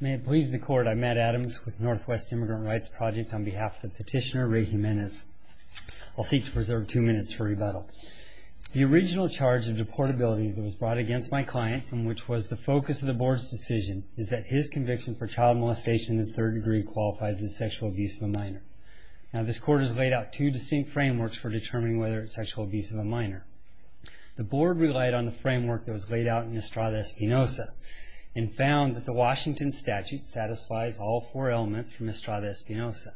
May it please the Court, I'm Matt Adams with Northwest Immigrant Rights Project on behalf of the petitioner Ray Jimenez. I'll seek to preserve two minutes for rebuttal. The original charge of deportability that was brought against my client, and which was the focus of the Board's decision, is that his conviction for child molestation in the third degree qualifies as sexual abuse of a minor. Now this Court has laid out two distinct frameworks for determining whether it's sexual abuse of a minor. The Board relied on the framework that was laid out in Estrada Espinoza, and found that the Washington Statute satisfies all four elements from Estrada Espinoza.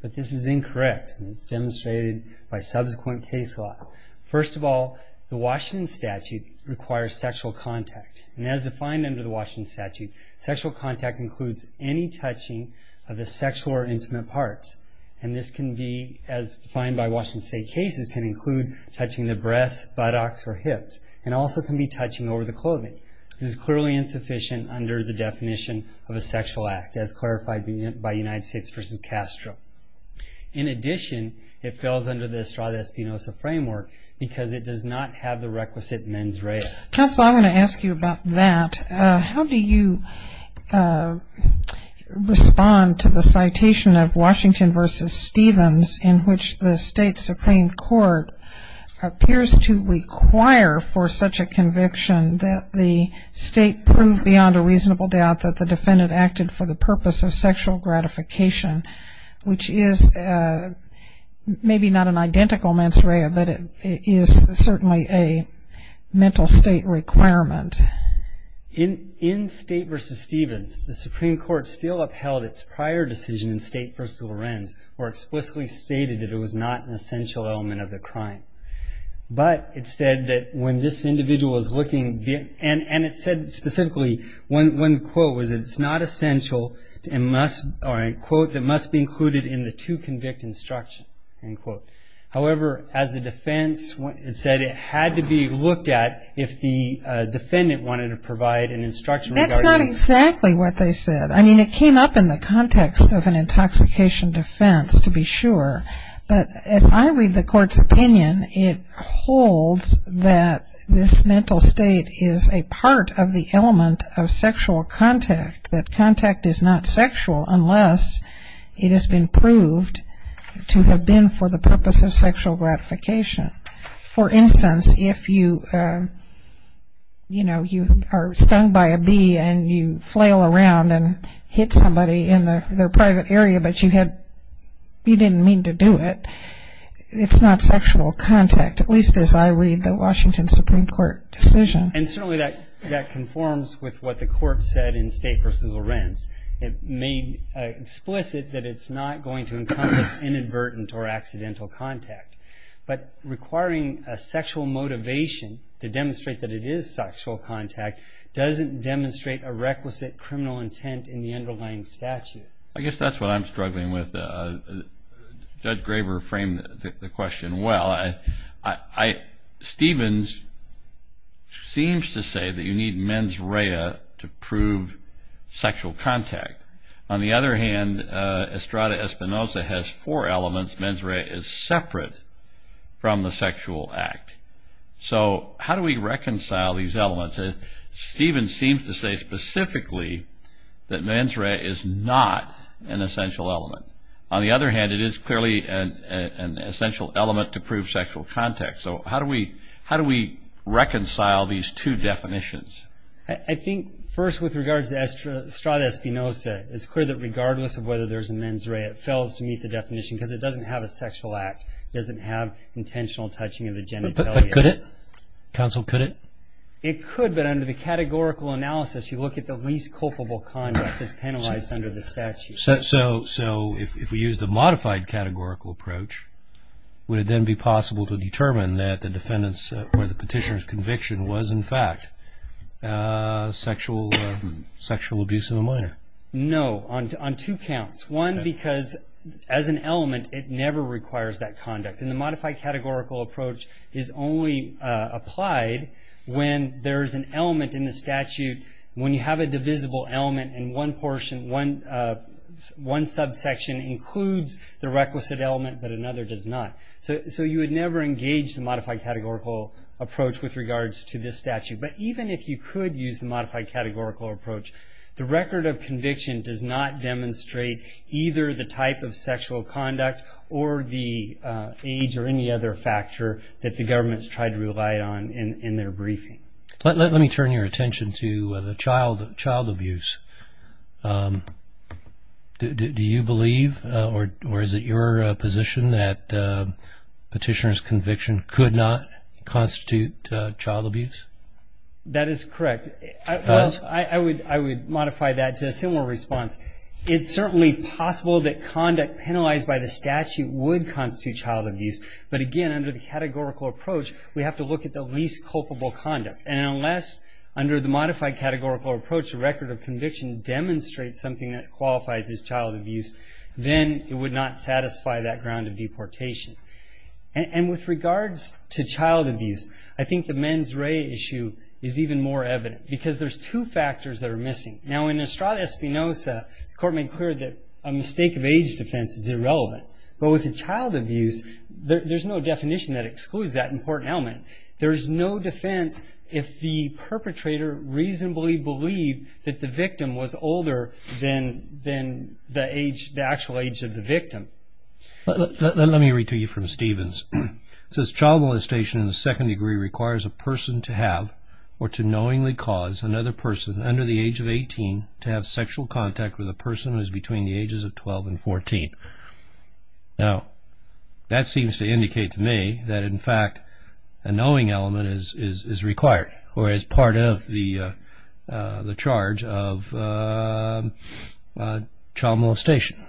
But this is incorrect, and it's demonstrated by subsequent case law. First of all, the Washington Statute requires sexual contact, and as defined under the Washington Statute, sexual contact includes any touching of the sexual or intimate parts. And this can be, as defined by Washington State cases, can include touching the breasts, buttocks, or hips, and also can be touching over the clothing. This is clearly insufficient under the definition of a sexual act, as clarified by United States v. Castro. In addition, it falls under the Estrada Espinoza framework because it does not have the requisite mens rea. Counsel, I want to ask you about that. How do you respond to the citation of Washington v. Stevens, in which the State Supreme Court appears to require for such a conviction that the State prove beyond a reasonable doubt that the defendant acted for the purpose of sexual gratification, which is maybe not an state requirement? In State v. Stevens, the Supreme Court still upheld its prior decision in State v. Lorenz, where it explicitly stated that it was not an essential element of the crime. But it said that when this individual is looking, and it said specifically, one quote was, it's not essential, or a quote that must be included in the to-convict instruction, end quote. However, as a defense, it said it had to be looked at if the defendant wanted to provide an instruction regarding- That's not exactly what they said. I mean, it came up in the context of an intoxication defense, to be sure. But as I read the Court's opinion, it holds that this mental state is a part of the element of sexual contact, that contact is not sexual unless it has been proved to have been for the purpose of sexual gratification. For instance, if you are stung by a bee and you flail around and hit somebody in their private area, but you didn't mean to do it, it's not sexual contact, at least as I read the Washington Supreme Court decision. And certainly that conforms with what the Court said in State v. Lorenz. It made explicit that it's not going to encompass inadvertent or accidental contact. But requiring a sexual motivation to demonstrate that it is sexual contact doesn't demonstrate a requisite criminal intent in the underlying statute. I guess that's what I'm struggling with. Judge Graber framed the question well. Stevens seems to say that you need mens rea to prove sexual contact. On the other hand, Estrada Espinosa has four elements. Mens rea is separate from the sexual act. So how do we reconcile these elements? Stevens seems to say specifically that mens rea is not an essential element. On the other hand, it is clearly an essential element to prove sexual contact. So how do we reconcile these two definitions? I think first with regards to Estrada Espinosa, it's clear that regardless of whether there's a mens rea, it fails to meet the definition because it doesn't have a sexual act. It doesn't have intentional touching of the genitalia. But could it? Counsel, could it? It could, but under the categorical analysis, you look at the least culpable conduct that's penalized under the statute. So if we use the modified categorical approach, would it then be possible to determine that the defendant's or the petitioner's conviction was in fact sexual abuse of a minor? No, on two counts. One because as an element, it never requires that conduct. And the modified categorical approach is only applied when there's an element in the statute, when you have a divisible element and one portion, one subsection includes the requisite element but another does not. So you would never engage the modified categorical approach with regards to this statute. But even if you could use the modified categorical approach, the record of conviction does not demonstrate either the type of sexual conduct or the age or any other factor that the government has tried to rely on in their briefing. Let me turn your attention to the child abuse. Do you believe or is it your position that petitioner's conviction could not constitute child abuse? That is correct. Well, I would modify that to a similar response. It's certainly possible that conduct penalized by the statute would constitute child abuse. But again, under the categorical approach, we have to look at the least culpable conduct. And unless under the modified categorical approach, the record of conviction demonstrates something that qualifies as child abuse, then it would not satisfy that ground of deportation. And with regards to child abuse, I think the mens rea issue is even more evident because there's two factors that are missing. Now in Estrada Espinoza, the court made clear that a mistake of age defense is irrelevant. But with the child abuse, there's no definition that excludes that important element. There's no defense if the perpetrator reasonably believed that the victim was older than the actual age of the victim. Let me read to you from Stevens. It says, child molestation in the second degree requires a person to have or to knowingly cause another person under the age of 18 to have sexual contact with a person who is between the ages of 12 and 14. Now, that seems to indicate to me that in fact a knowing element is required or is part of the charge of child molestation,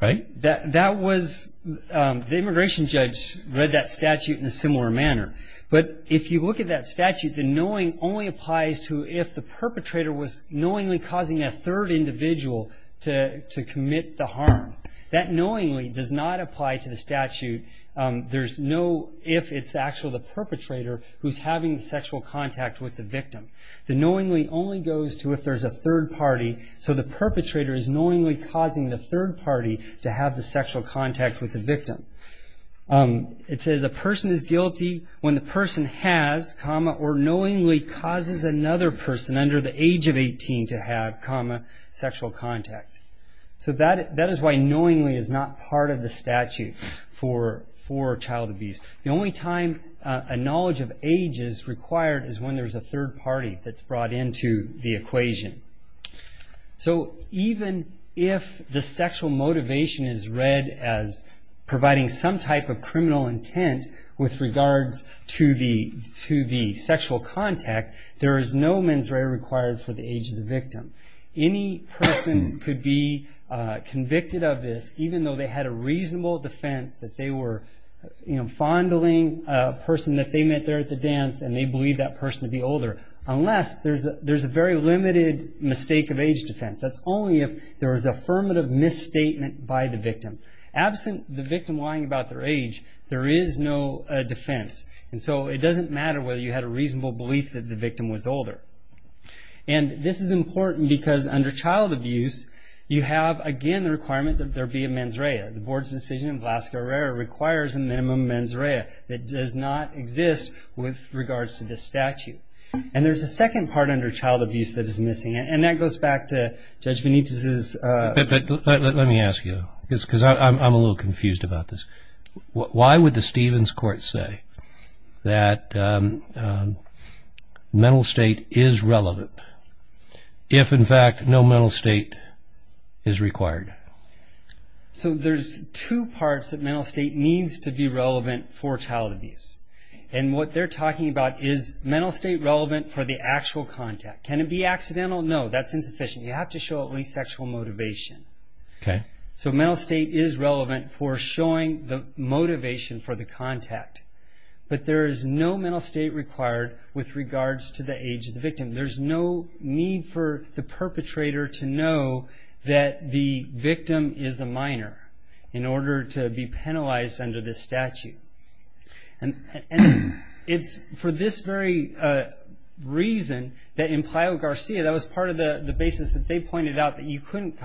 right? That was, the immigration judge read that statute in a similar manner. But if you look at that statute, the knowing only applies to if the perpetrator was knowingly causing a third individual to commit the harm. That knowingly does not apply to the statute if it's actually the perpetrator who's having sexual contact with the victim. The knowingly only goes to if there's a third party, so the perpetrator is knowingly causing the third party to have the sexual contact with the victim. It says a person is guilty when the person has, or knowingly causes another person under the age of 18 to have, sexual contact. So that is why knowingly is not part of the statute for child abuse. The only time a knowledge of age is required is when there's a third party that's brought into the equation. So even if the sexual motivation is read as providing some type of criminal intent with the age of the victim, any person could be convicted of this even though they had a reasonable defense that they were fondling a person that they met there at the dance and they believed that person to be older, unless there's a very limited mistake of age defense. That's only if there was affirmative misstatement by the victim. Absent the victim lying about their age, there is no defense. It doesn't matter whether you had a reasonable belief that the victim was older. This is important because under child abuse, you have, again, the requirement that there be a mens rea. The Board's decision in Vlaska-Herrera requires a minimum mens rea that does not exist with regards to this statute. There's a second part under child abuse that is missing, and that goes back to Judge Benitez's... Let me ask you, because I'm a little confused about this. Why would the Stevens court say that mental state is relevant if, in fact, no mental state is required? There's two parts that mental state needs to be relevant for child abuse. What they're talking about is mental state relevant for the actual contact. Can it be accidental? No, that's insufficient. You have to show at least sexual motivation. Okay. Mental state is relevant for showing the motivation for the contact, but there is no mental state required with regards to the age of the victim. There's no need for the perpetrator to know that the victim is a minor in order to be penalized under this statute. For this very reason, that in Playa Garcia, that was part of the basis that they pointed out that you couldn't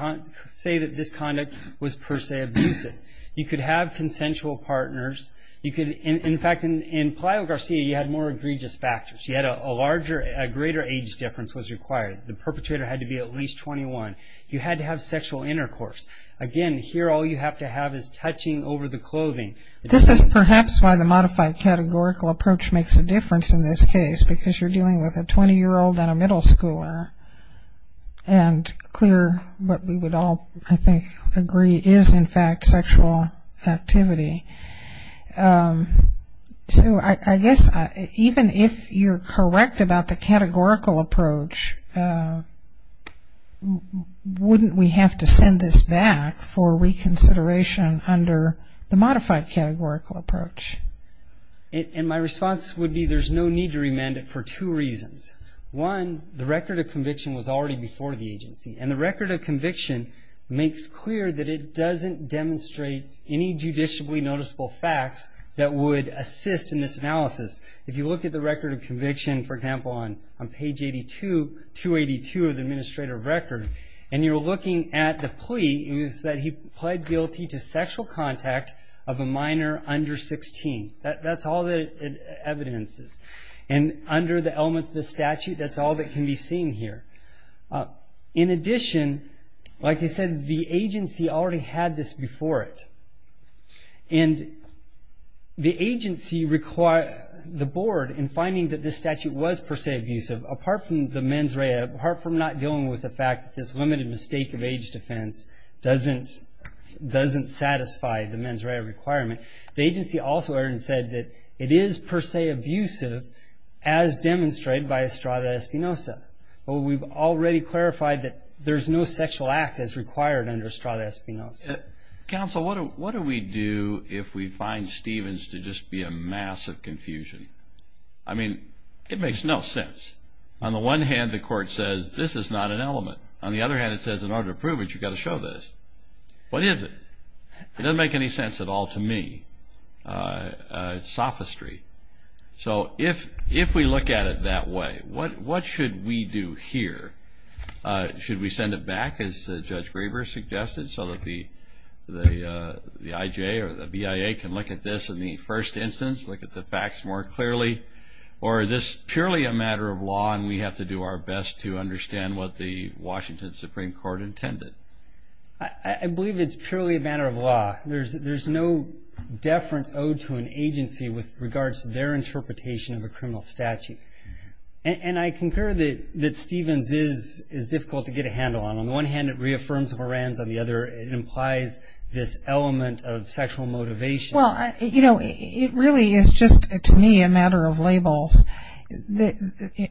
say that this conduct was per se abusive. You could have consensual partners. You could... In fact, in Playa Garcia, you had more egregious factors. You had a larger... A greater age difference was required. The perpetrator had to be at least 21. You had to have sexual intercourse. Again, here all you have to have is touching over the clothing. This is perhaps why the modified categorical approach makes a difference in this case, because you're dealing with a 20-year-old and a middle schooler, and clear what we would all, I think, agree is, in fact, sexual activity. I guess, even if you're correct about the categorical approach, wouldn't we have to send this back for reconsideration under the modified categorical approach? My response would be, there's no need to remand it for two reasons. One, the record of conviction was already before the agency, and the record of conviction makes clear that it doesn't demonstrate any judicially noticeable facts that would assist in this analysis. If you look at the record of conviction, for example, on page 82, 282 of the Administrative Record, and you're looking at the plea, it is that he pled guilty to sexual contact of a minor under 16. That's all the evidence is. Under the elements of the statute, that's all that can be seen here. In addition, like I said, the agency already had this before it. The agency required the board, in finding that this statute was per se abusive, apart from the mens rea, apart from not dealing with the fact that this limited mistake of The agency also already said that it is per se abusive, as demonstrated by estrada espinosa. We've already clarified that there's no sexual act as required under estrada espinosa. Counsel, what do we do if we find Stevens to just be a mass of confusion? I mean, it makes no sense. On the one hand, the court says, this is not an element. On the other hand, it says, in order to prove it, you've got to show this. What is it? It doesn't make any sense at all to me. It's sophistry. So if we look at it that way, what should we do here? Should we send it back, as Judge Graber suggested, so that the IJ or the BIA can look at this in the first instance, look at the facts more clearly? Or is this purely a matter of law, and we have to do our best to understand what the Washington Supreme Court intended? I believe it's purely a matter of law. There's no deference owed to an agency with regards to their interpretation of a criminal statute. And I concur that Stevens is difficult to get a handle on. On the one hand, it reaffirms Horan's, on the other, it implies this element of sexual motivation. Well, you know, it really is just, to me, a matter of labels.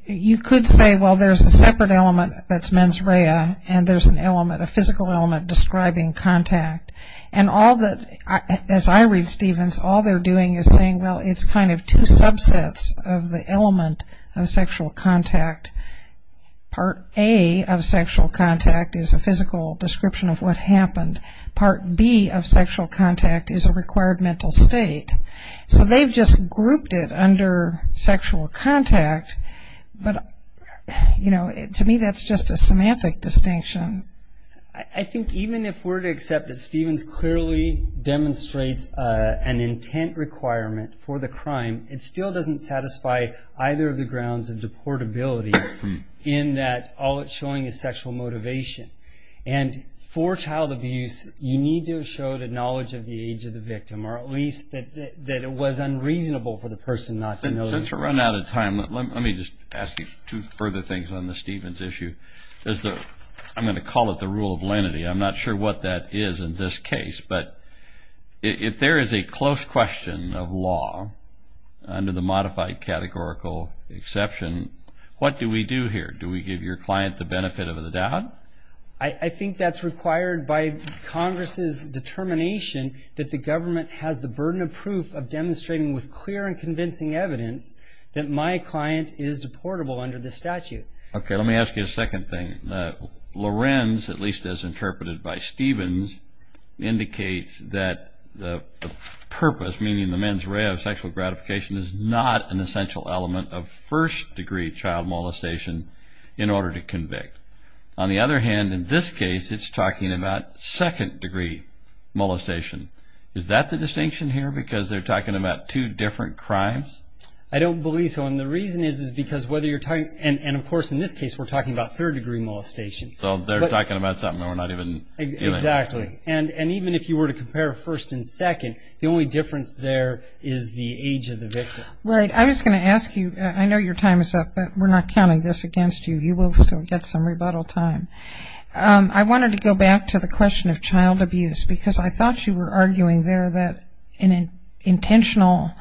You could say, well, there's a separate element that's mens rea, and there's an element of physical element describing contact. And all that, as I read Stevens, all they're doing is saying, well, it's kind of two subsets of the element of sexual contact. Part A of sexual contact is a physical description of what happened. Part B of sexual contact is a required mental state. So they've just grouped it under sexual contact. But, you know, to me, that's just a semantic distinction. I think even if we're to accept that Stevens clearly demonstrates an intent requirement for the crime, it still doesn't satisfy either of the grounds of deportability in that all it's showing is sexual motivation. And for child abuse, you need to show the knowledge of the age of the victim, or at least that it was unreasonable for the person not to know the age of the victim. Since we're running out of time, let me just ask you two further things on the Stevens issue. I'm going to call it the rule of lenity. I'm not sure what that is in this case. But if there is a close question of law under the modified categorical exception, what do we do here? Do we give your client the benefit of the doubt? I think that's required by Congress's determination that the government has the burden of proof of demonstrating with clear and convincing evidence that my client is deportable under the statute. Okay, let me ask you a second thing. Lorenz, at least as interpreted by Stevens, indicates that the purpose, meaning the mens rea of sexual gratification, is not an essential element of first-degree child molestation in order to convict. On the other hand, in this case, it's talking about second-degree molestation. Is that the distinction here, because they're talking about two different crimes? I don't believe so. And the reason is because whether you're talking, and of course, in this case, we're talking about third-degree molestation. So they're talking about something we're not even dealing with. Exactly. And even if you were to compare first and second, the only difference there is the age of the victim. Right. I was going to ask you, I know your time is up, but we're not counting this against you. You will still get some rebuttal time. I wanted to go back to the question of child abuse, because I thought you were arguing there that an intentional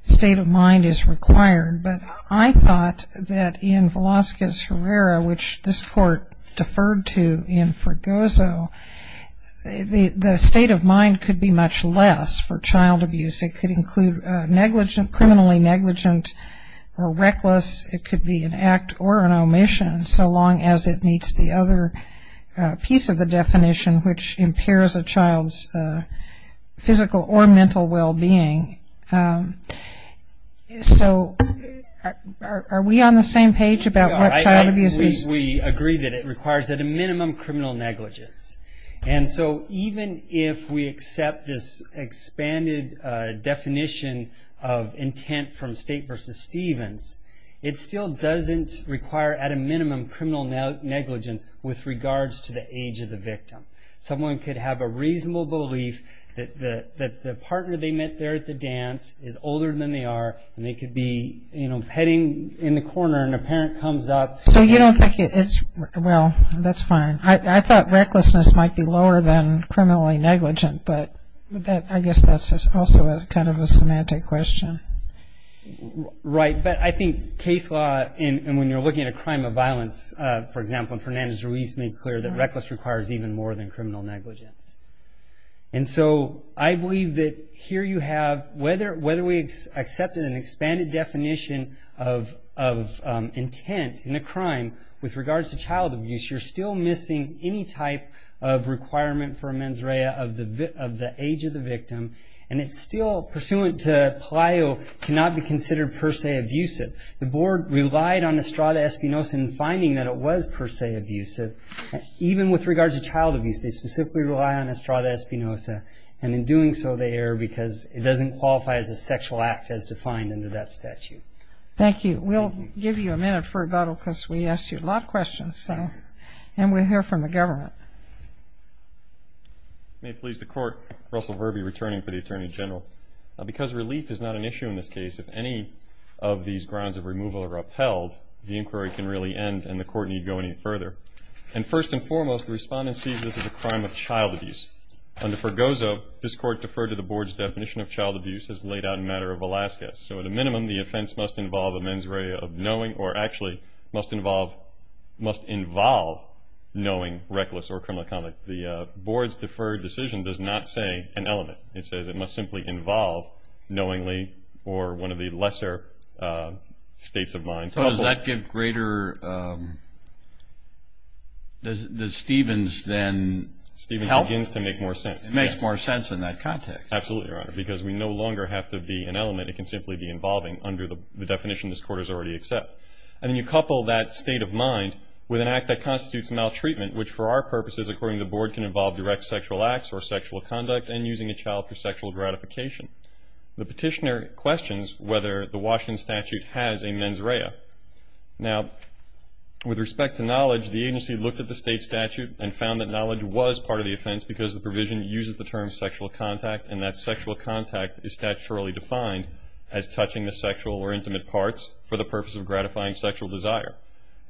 state of mind is required, but I thought that in Velazquez Herrera, which this court deferred to in Fregoso, the state of mind could be much less for child abuse. It could include criminally negligent or reckless, it could be an act or an omission so long as it meets the other piece of the definition, which impairs a child's physical or mental well-being. So are we on the same page about what child abuse is? We agree that it requires, at a minimum, criminal negligence. And so even if we accept this expanded definition of intent from State v. Stevens, it still doesn't require, at a minimum, criminal negligence with regards to the age of the victim. Someone could have a reasonable belief that the partner they met there at the dance is older than they are, and they could be petting in the corner, and a parent comes up. So you don't think it's, well, that's fine. I thought recklessness might be lower than criminally negligent, but I guess that's also kind of a semantic question. Right. But I think case law, and when you're looking at a crime of violence, for example, and Fernandez-Ruiz made clear that reckless requires even more than criminal negligence. And so I believe that here you have, whether we accepted an expanded definition of intent in a crime with regards to child abuse, you're still missing any type of requirement for a mens rea of the age of the victim. And it's still, pursuant to Pelayo, cannot be considered per se abusive. The board relied on estrada espinosa in finding that it was per se abusive. Even with regards to child abuse, they specifically rely on estrada espinosa, and in doing so they err because it doesn't qualify as a sexual act as defined under that statute. Thank you. We'll give you a minute for rebuttal because we asked you a lot of questions, and we'll hear from the government. May it please the court, Russell Verbe returning for the Attorney General. Because relief is not an issue in this case, if any of these grounds of removal are upheld, the inquiry can really end and the court need go any further. And first and foremost, the respondent sees this as a crime of child abuse. Under Fergozo, this court deferred to the board's definition of child abuse as laid out in the matter of Velasquez. So at a minimum, the offense must involve a mens rea of knowing, or actually must involve, knowing reckless or criminal conduct. The board's deferred decision does not say an element. It says it must simply involve knowingly, or one of the lesser states of mind. So does that give greater, does Stevens then help? Stevens begins to make more sense. It makes more sense in that context. Absolutely, Your Honor, because we no longer have to be an element, it can simply be involving under the definition this court has already accepted. And then you couple that state of mind with an act that constitutes maltreatment, which for our purposes, according to the board, can involve direct sexual acts or sexual conduct and using a child for sexual gratification. The petitioner questions whether the Washington statute has a mens rea. Now, with respect to knowledge, the agency looked at the state statute and found that knowledge was part of the offense because the provision uses the term sexual contact and that sexual contact is statutorily defined as touching the sexual or intimate parts for the purpose of gratifying sexual desire.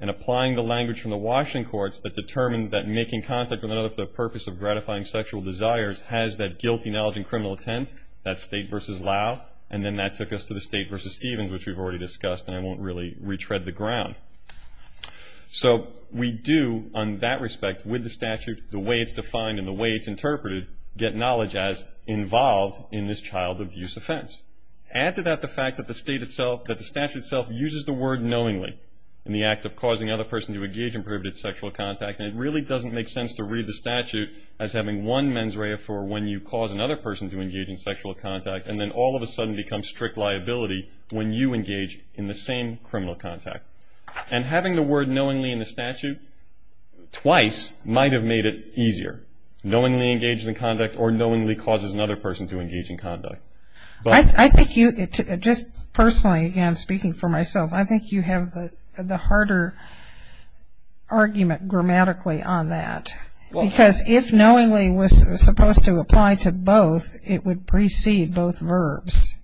And applying the language from the Washington courts that determined that making contact with another for the purpose of gratifying sexual desires has that guilty knowledge and criminal intent, that's state versus law, and then that took us to the state versus Stevens, which we've already discussed, and I won't really retread the ground. So we do, on that respect, with the statute, the way it's defined and the way it's interpreted, get knowledge as involved in this child abuse offense. Add to that the fact that the statute itself uses the word knowingly in the act of causing another person to engage in prohibited sexual contact, and it really doesn't make sense to read the statute as having one mens rea for when you cause another person to engage in sexual contact and then all of a sudden become strict liability when you engage in the same criminal contact. And having the word knowingly in the statute twice might have made it easier, knowingly engages in conduct or knowingly causes another person to engage in conduct. I think you, just personally, again, speaking for myself, I think you have the harder argument grammatically on that, because if knowingly was supposed to apply to both, it would precede both verbs.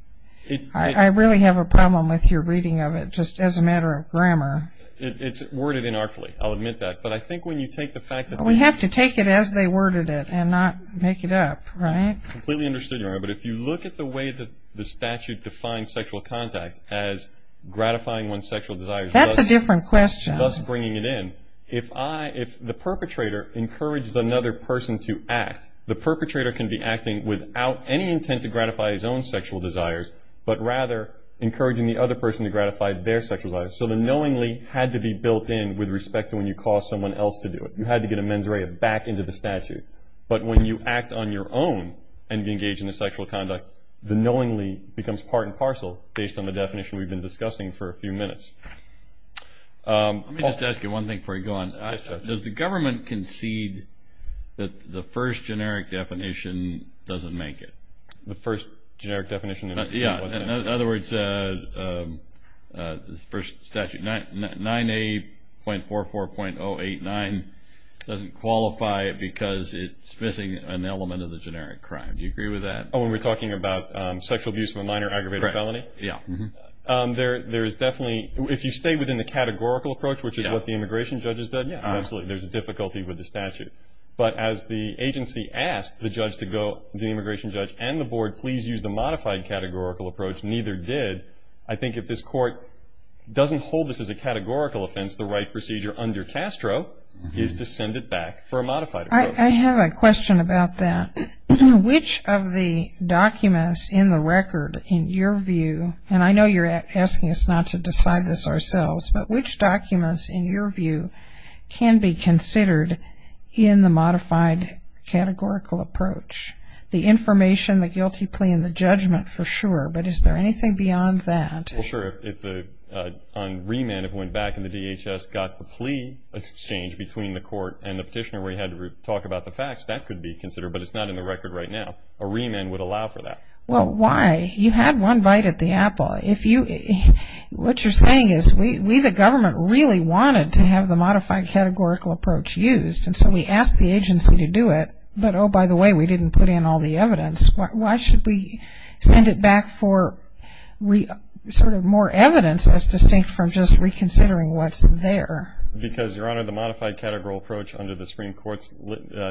I really have a problem with your reading of it, just as a matter of grammar. It's worded inartfully, I'll admit that, but I think when you take the fact that we We have to take it as they worded it and not make it up, right? Completely understood, Your Honor, but if you look at the way that the statute defines sexual contact as gratifying one's sexual desires. That's a different question. Thus bringing it in. If the perpetrator encourages another person to act, the perpetrator can be acting without any intent to gratify his own sexual desires, but rather encouraging the other person to gratify their sexual desires. So the knowingly had to be built in with respect to when you cause someone else to do it. You had to get a mens rea back into the statute. But when you act on your own and engage in the sexual conduct, the knowingly becomes part and parcel based on the definition we've been discussing for a few minutes. Let me just ask you one thing before you go on. Does the government concede that the first generic definition doesn't make it? The first generic definition? Yeah. In other words, this first statute, 9A.44.089 doesn't qualify it because it's missing an element of the generic crime. Do you agree with that? Oh, when we're talking about sexual abuse of a minor aggravated felony? Right. Yeah. There is definitely, if you stay within the categorical approach, which is what the immigration judge has done, yeah, absolutely. There's a difficulty with the statute. But as the agency asked the judge to go, the immigration judge and the board please use the modified categorical approach, neither did. I think if this court doesn't hold this as a categorical offense, the right procedure under Castro is to send it back for a modified approach. I have a question about that. Which of the documents in the record, in your view, and I know you're asking us not to decide this ourselves, but which documents, in your view, can be considered in the modified categorical approach? The information, the guilty plea, and the judgment, for sure. But is there anything beyond that? Well, sure. If on remand it went back and the DHS got the plea exchange between the court and the petitioner where he had to talk about the facts, that could be considered. But it's not in the record right now. A remand would allow for that. Well, why? You had one bite at the apple. If you, what you're saying is we the government really wanted to have the modified categorical approach used. And so we asked the agency to do it. But oh, by the way, we didn't put in all the evidence. Why should we send it back for sort of more evidence as distinct from just reconsidering what's there? Because, Your Honor, the modified categorical approach under the Supreme Court's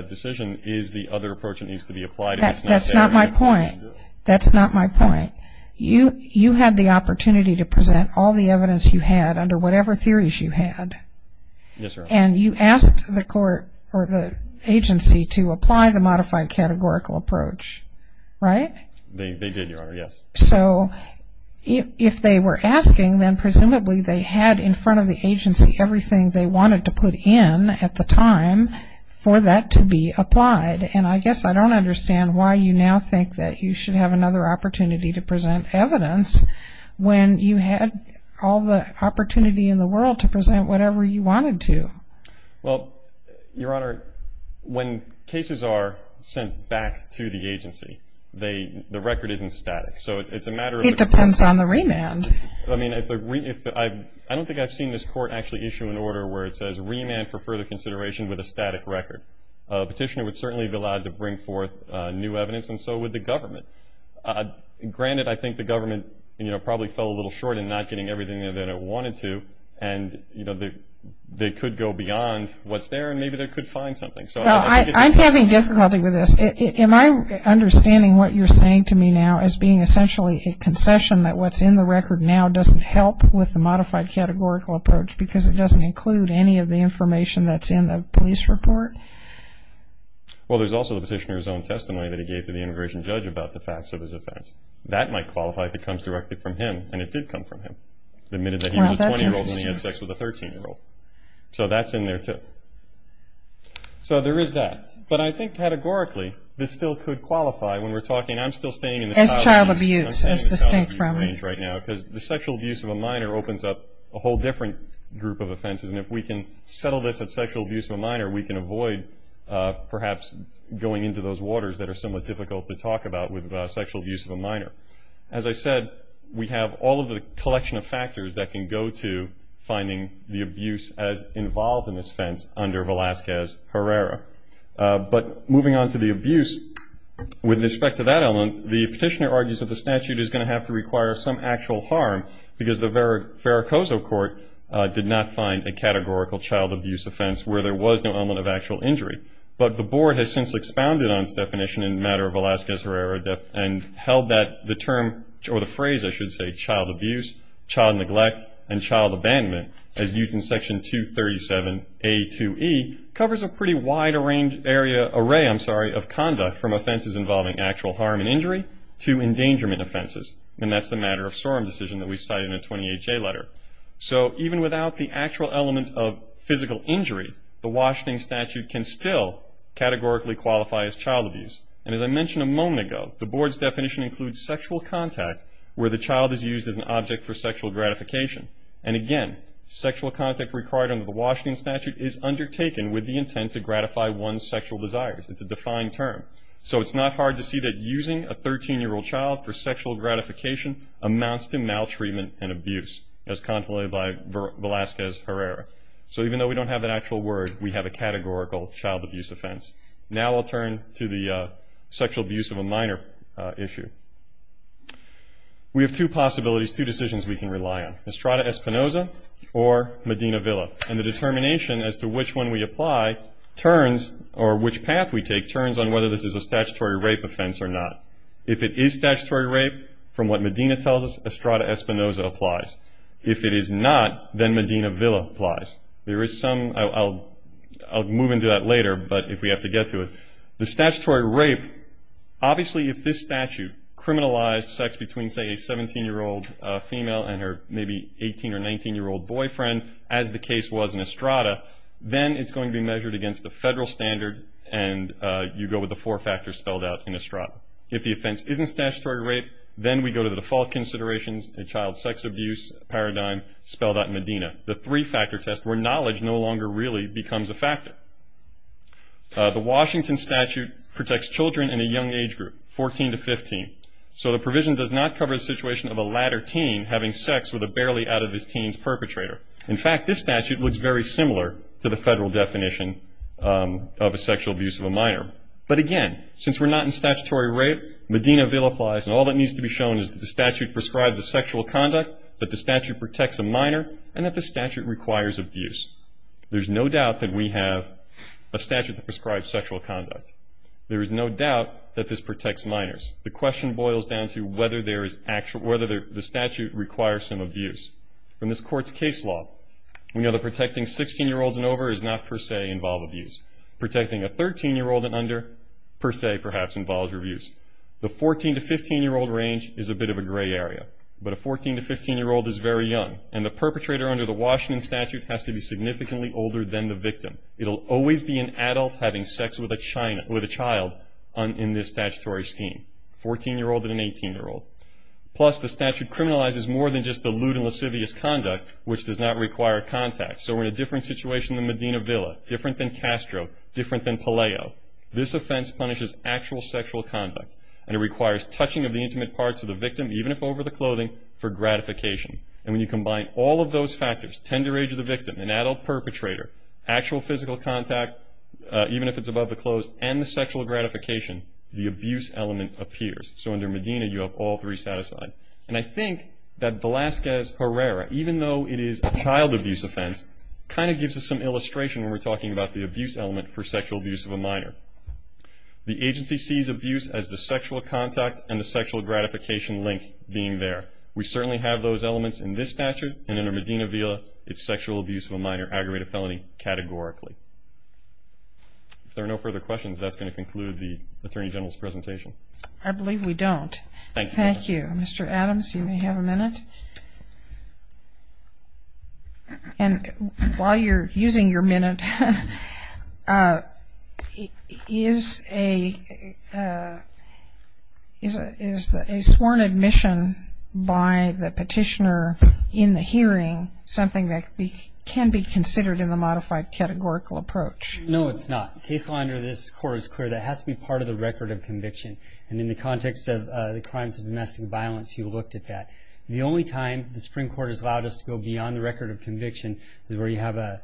decision is the other approach that needs to be applied. That's not my point. That's not my point. You had the opportunity to present all the evidence you had under whatever theories you had. Yes, Your Honor. And you asked the court or the agency to apply the modified categorical approach, right? They did, Your Honor, yes. So if they were asking, then presumably they had in front of the agency everything they wanted to put in at the time for that to be applied. And I guess I don't understand why you now think that you should have another opportunity to present evidence when you had all the opportunity in the world to present whatever you wanted to. Well, Your Honor, when cases are sent back to the agency, they, the record isn't static. So it's a matter of the court. It depends on the remand. I mean, if the remand, I don't think I've seen this court actually issue an order where it says remand for further consideration with a static record. A petitioner would certainly be allowed to bring forth new evidence, and so would the government. Granted, I think the government, you know, probably fell a little short in not getting everything that it wanted to. And, you know, they could go beyond what's there, and maybe they could find something. So I think it's a matter of the court. Well, I'm having difficulty with this. Am I understanding what you're saying to me now as being essentially a concession that what's in the record now doesn't help with the modified categorical approach because it doesn't include any of the information that's in the police report? Well, there's also the petitioner's own testimony that he gave to the immigration judge about the facts of his offense. That might qualify if it comes directly from him, and it did come from him. Admitted that he was a 20-year-old when he had sex with a 13-year-old. So that's in there, too. So there is that. But I think categorically, this still could qualify when we're talking. I'm still staying in the child abuse range right now because the sexual abuse of a minor opens up a whole different group of offenses. And if we can settle this at sexual abuse of a minor, we can avoid perhaps going into those waters that are somewhat difficult to talk about with sexual abuse of a minor. As I said, we have all of the collection of factors that can go to finding the abuse as involved in this offense under Velazquez Herrera. But moving on to the abuse, with respect to that element, the petitioner argues that the statute is going to have to require some actual harm because the Veracruz court did not find a categorical child abuse offense where there was no element of actual injury. But the board has since expounded on its definition in the matter of Velazquez Herrera and held that the term, or the phrase I should say, child abuse, child neglect, and child abandonment, as used in Section 237A2E, covers a pretty wide array of conduct from offenses involving actual harm and injury to endangerment offenses. And that's the matter of Sorem decision that we cite in the 28J letter. So even without the actual element of physical injury, the Washington statute can still categorically qualify as child abuse. And as I mentioned a moment ago, the board's definition includes sexual contact where the child is used as an object for sexual gratification. And again, sexual contact required under the Washington statute is undertaken with the intent to gratify one's sexual desires. It's a defined term. So it's not hard to see that using a 13-year-old child for sexual gratification amounts to maltreatment and abuse, as contemplated by Velazquez Herrera. So even though we don't have an actual word, we have a categorical child abuse offense. Now I'll turn to the sexual abuse of a minor issue. We have two possibilities, two decisions we can rely on, Estrada Espinoza or Medina Villa. And the determination as to which one we apply turns, or which path we take, turns on whether this is a statutory rape offense or not. If it is statutory rape, from what Medina tells us, Estrada Espinoza applies. If it is not, then Medina Villa applies. There is some, I'll move into that later, but if we have to get to it. The statutory rape, obviously if this statute criminalized sex between say a 17-year-old female and her maybe 18 or 19-year-old boyfriend, as the case was in Estrada, then it's going to be measured against the federal standard and you go with the four factors spelled out in Estrada. If the offense isn't statutory rape, then we go to the default considerations, a child sex abuse paradigm spelled out in Medina. The three-factor test, where knowledge no longer really becomes a factor. The Washington statute protects children in a young age group, 14 to 15. So the provision does not cover the situation of a latter teen having sex with a barely out of his teens perpetrator. In fact, this statute looks very similar to the federal definition of a sexual abuse of a minor. But again, since we're not in statutory rape, Medina Villa applies and all that needs to be shown is that the statute prescribes a sexual conduct, that the statute protects a minor, and that the statute requires abuse. There's no doubt that we have a statute that prescribes sexual conduct. There is no doubt that this protects minors. The question boils down to whether there is actual, whether the statute requires some abuse. In this court's case law, we know that protecting 16-year-olds and over does not per se involve abuse. Protecting a 13-year-old and under per se perhaps involves abuse. The 14 to 15-year-old range is a bit of a gray area. But a 14 to 15-year-old is very young and the perpetrator under the Washington statute has to be significantly older than the victim. It'll always be an adult having sex with a child in this statutory scheme, 14-year-old and an 18-year-old. Plus, the statute criminalizes more than just the lewd and lascivious conduct, which does not require contact. So we're in a different situation than Medina Villa, different than Castro, different than Palaio. This offense punishes actual sexual conduct and it requires touching of the intimate parts of the victim, even if over the clothing, for gratification. And when you combine all of those factors, tender age of the victim, an adult perpetrator, actual physical contact, even if it's above the clothes, and the sexual gratification, the abuse element appears. So under Medina, you have all three satisfied. And I think that Velazquez-Herrera, even though it is a child abuse offense, kind of gives us some illustration when we're talking about the abuse element for sexual abuse of a minor. The agency sees abuse as the sexual contact and the sexual gratification link being there. We certainly have those elements in this statute, and under Medina Villa, it's sexual abuse of a minor aggravated felony categorically. If there are no further questions, that's going to conclude the Attorney General's presentation. I believe we don't. Thank you. Mr. Adams, you may have a minute. And while you're using your minute, is a sworn admission by the petitioner in the hearing something that can be considered in the modified categorical approach? No, it's not. The case law under this court is clear. That has to be part of the record of conviction. And in the context of the crimes of domestic violence, you looked at that. The only time the Supreme Court has allowed us to go beyond the record of conviction is where you have a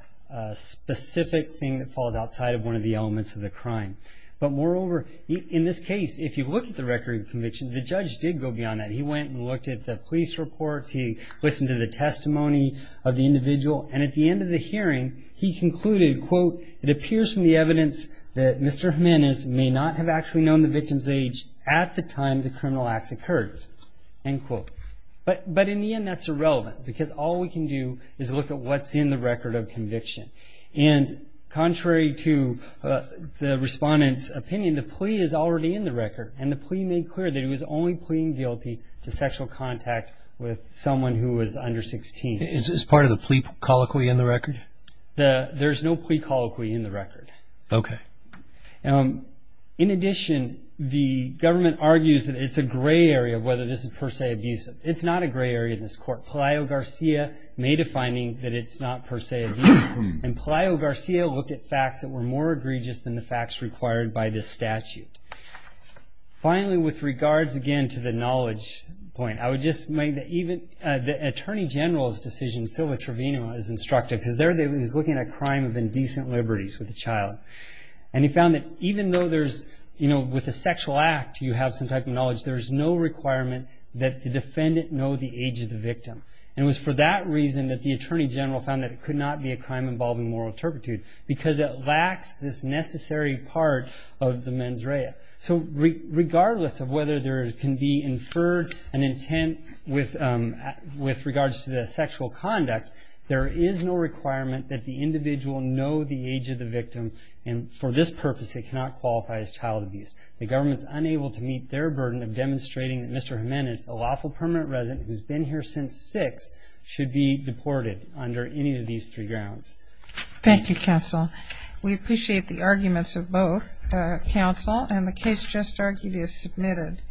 specific thing that falls outside of one of the elements of the crime. But moreover, in this case, if you look at the record of conviction, the judge did go beyond that. He went and looked at the police reports. He listened to the testimony of the individual. And at the end of the hearing, he concluded, quote, it appears from the evidence that Mr. Jimenez may not have actually known the victim's age at the time the criminal acts occurred, end quote. But in the end, that's irrelevant, because all we can do is look at what's in the record of conviction. And contrary to the respondent's opinion, the plea is already in the record. And the plea made clear that he was only pleading guilty to sexual contact with someone who was under 16. Is this part of the plea colloquy in the record? There's no plea colloquy in the record. Okay. In addition, the government argues that it's a gray area of whether this is per se abusive. It's not a gray area in this court. Pelayo-Garcia made a finding that it's not per se abusive. And Pelayo-Garcia looked at facts that were more egregious than the facts required by this statute. Finally, with regards, again, to the knowledge point, I would just make that even, the Attorney General's decision, Silva Trevino, is instructive, because there he was looking at a crime of indecent liberties with a child. And he found that even though there's, you know, with a sexual act, you have some type of knowledge, there's no requirement that the defendant know the age of the victim. And it was for that reason that the Attorney General found that it could not be a crime involving moral turpitude, because it lacks this necessary part of the mens rea. So regardless of whether there can be inferred an intent with regards to the sexual conduct, there is no requirement that the individual know the age of the victim. And for this purpose, it cannot qualify as child abuse. The government's unable to meet their burden of demonstrating that Mr. Jimenez, a lawful permanent resident who's been here since six, should be deported under any of these three grounds. Thank you, counsel. We appreciate the arguments of both counsel, and the case just argued is submitted.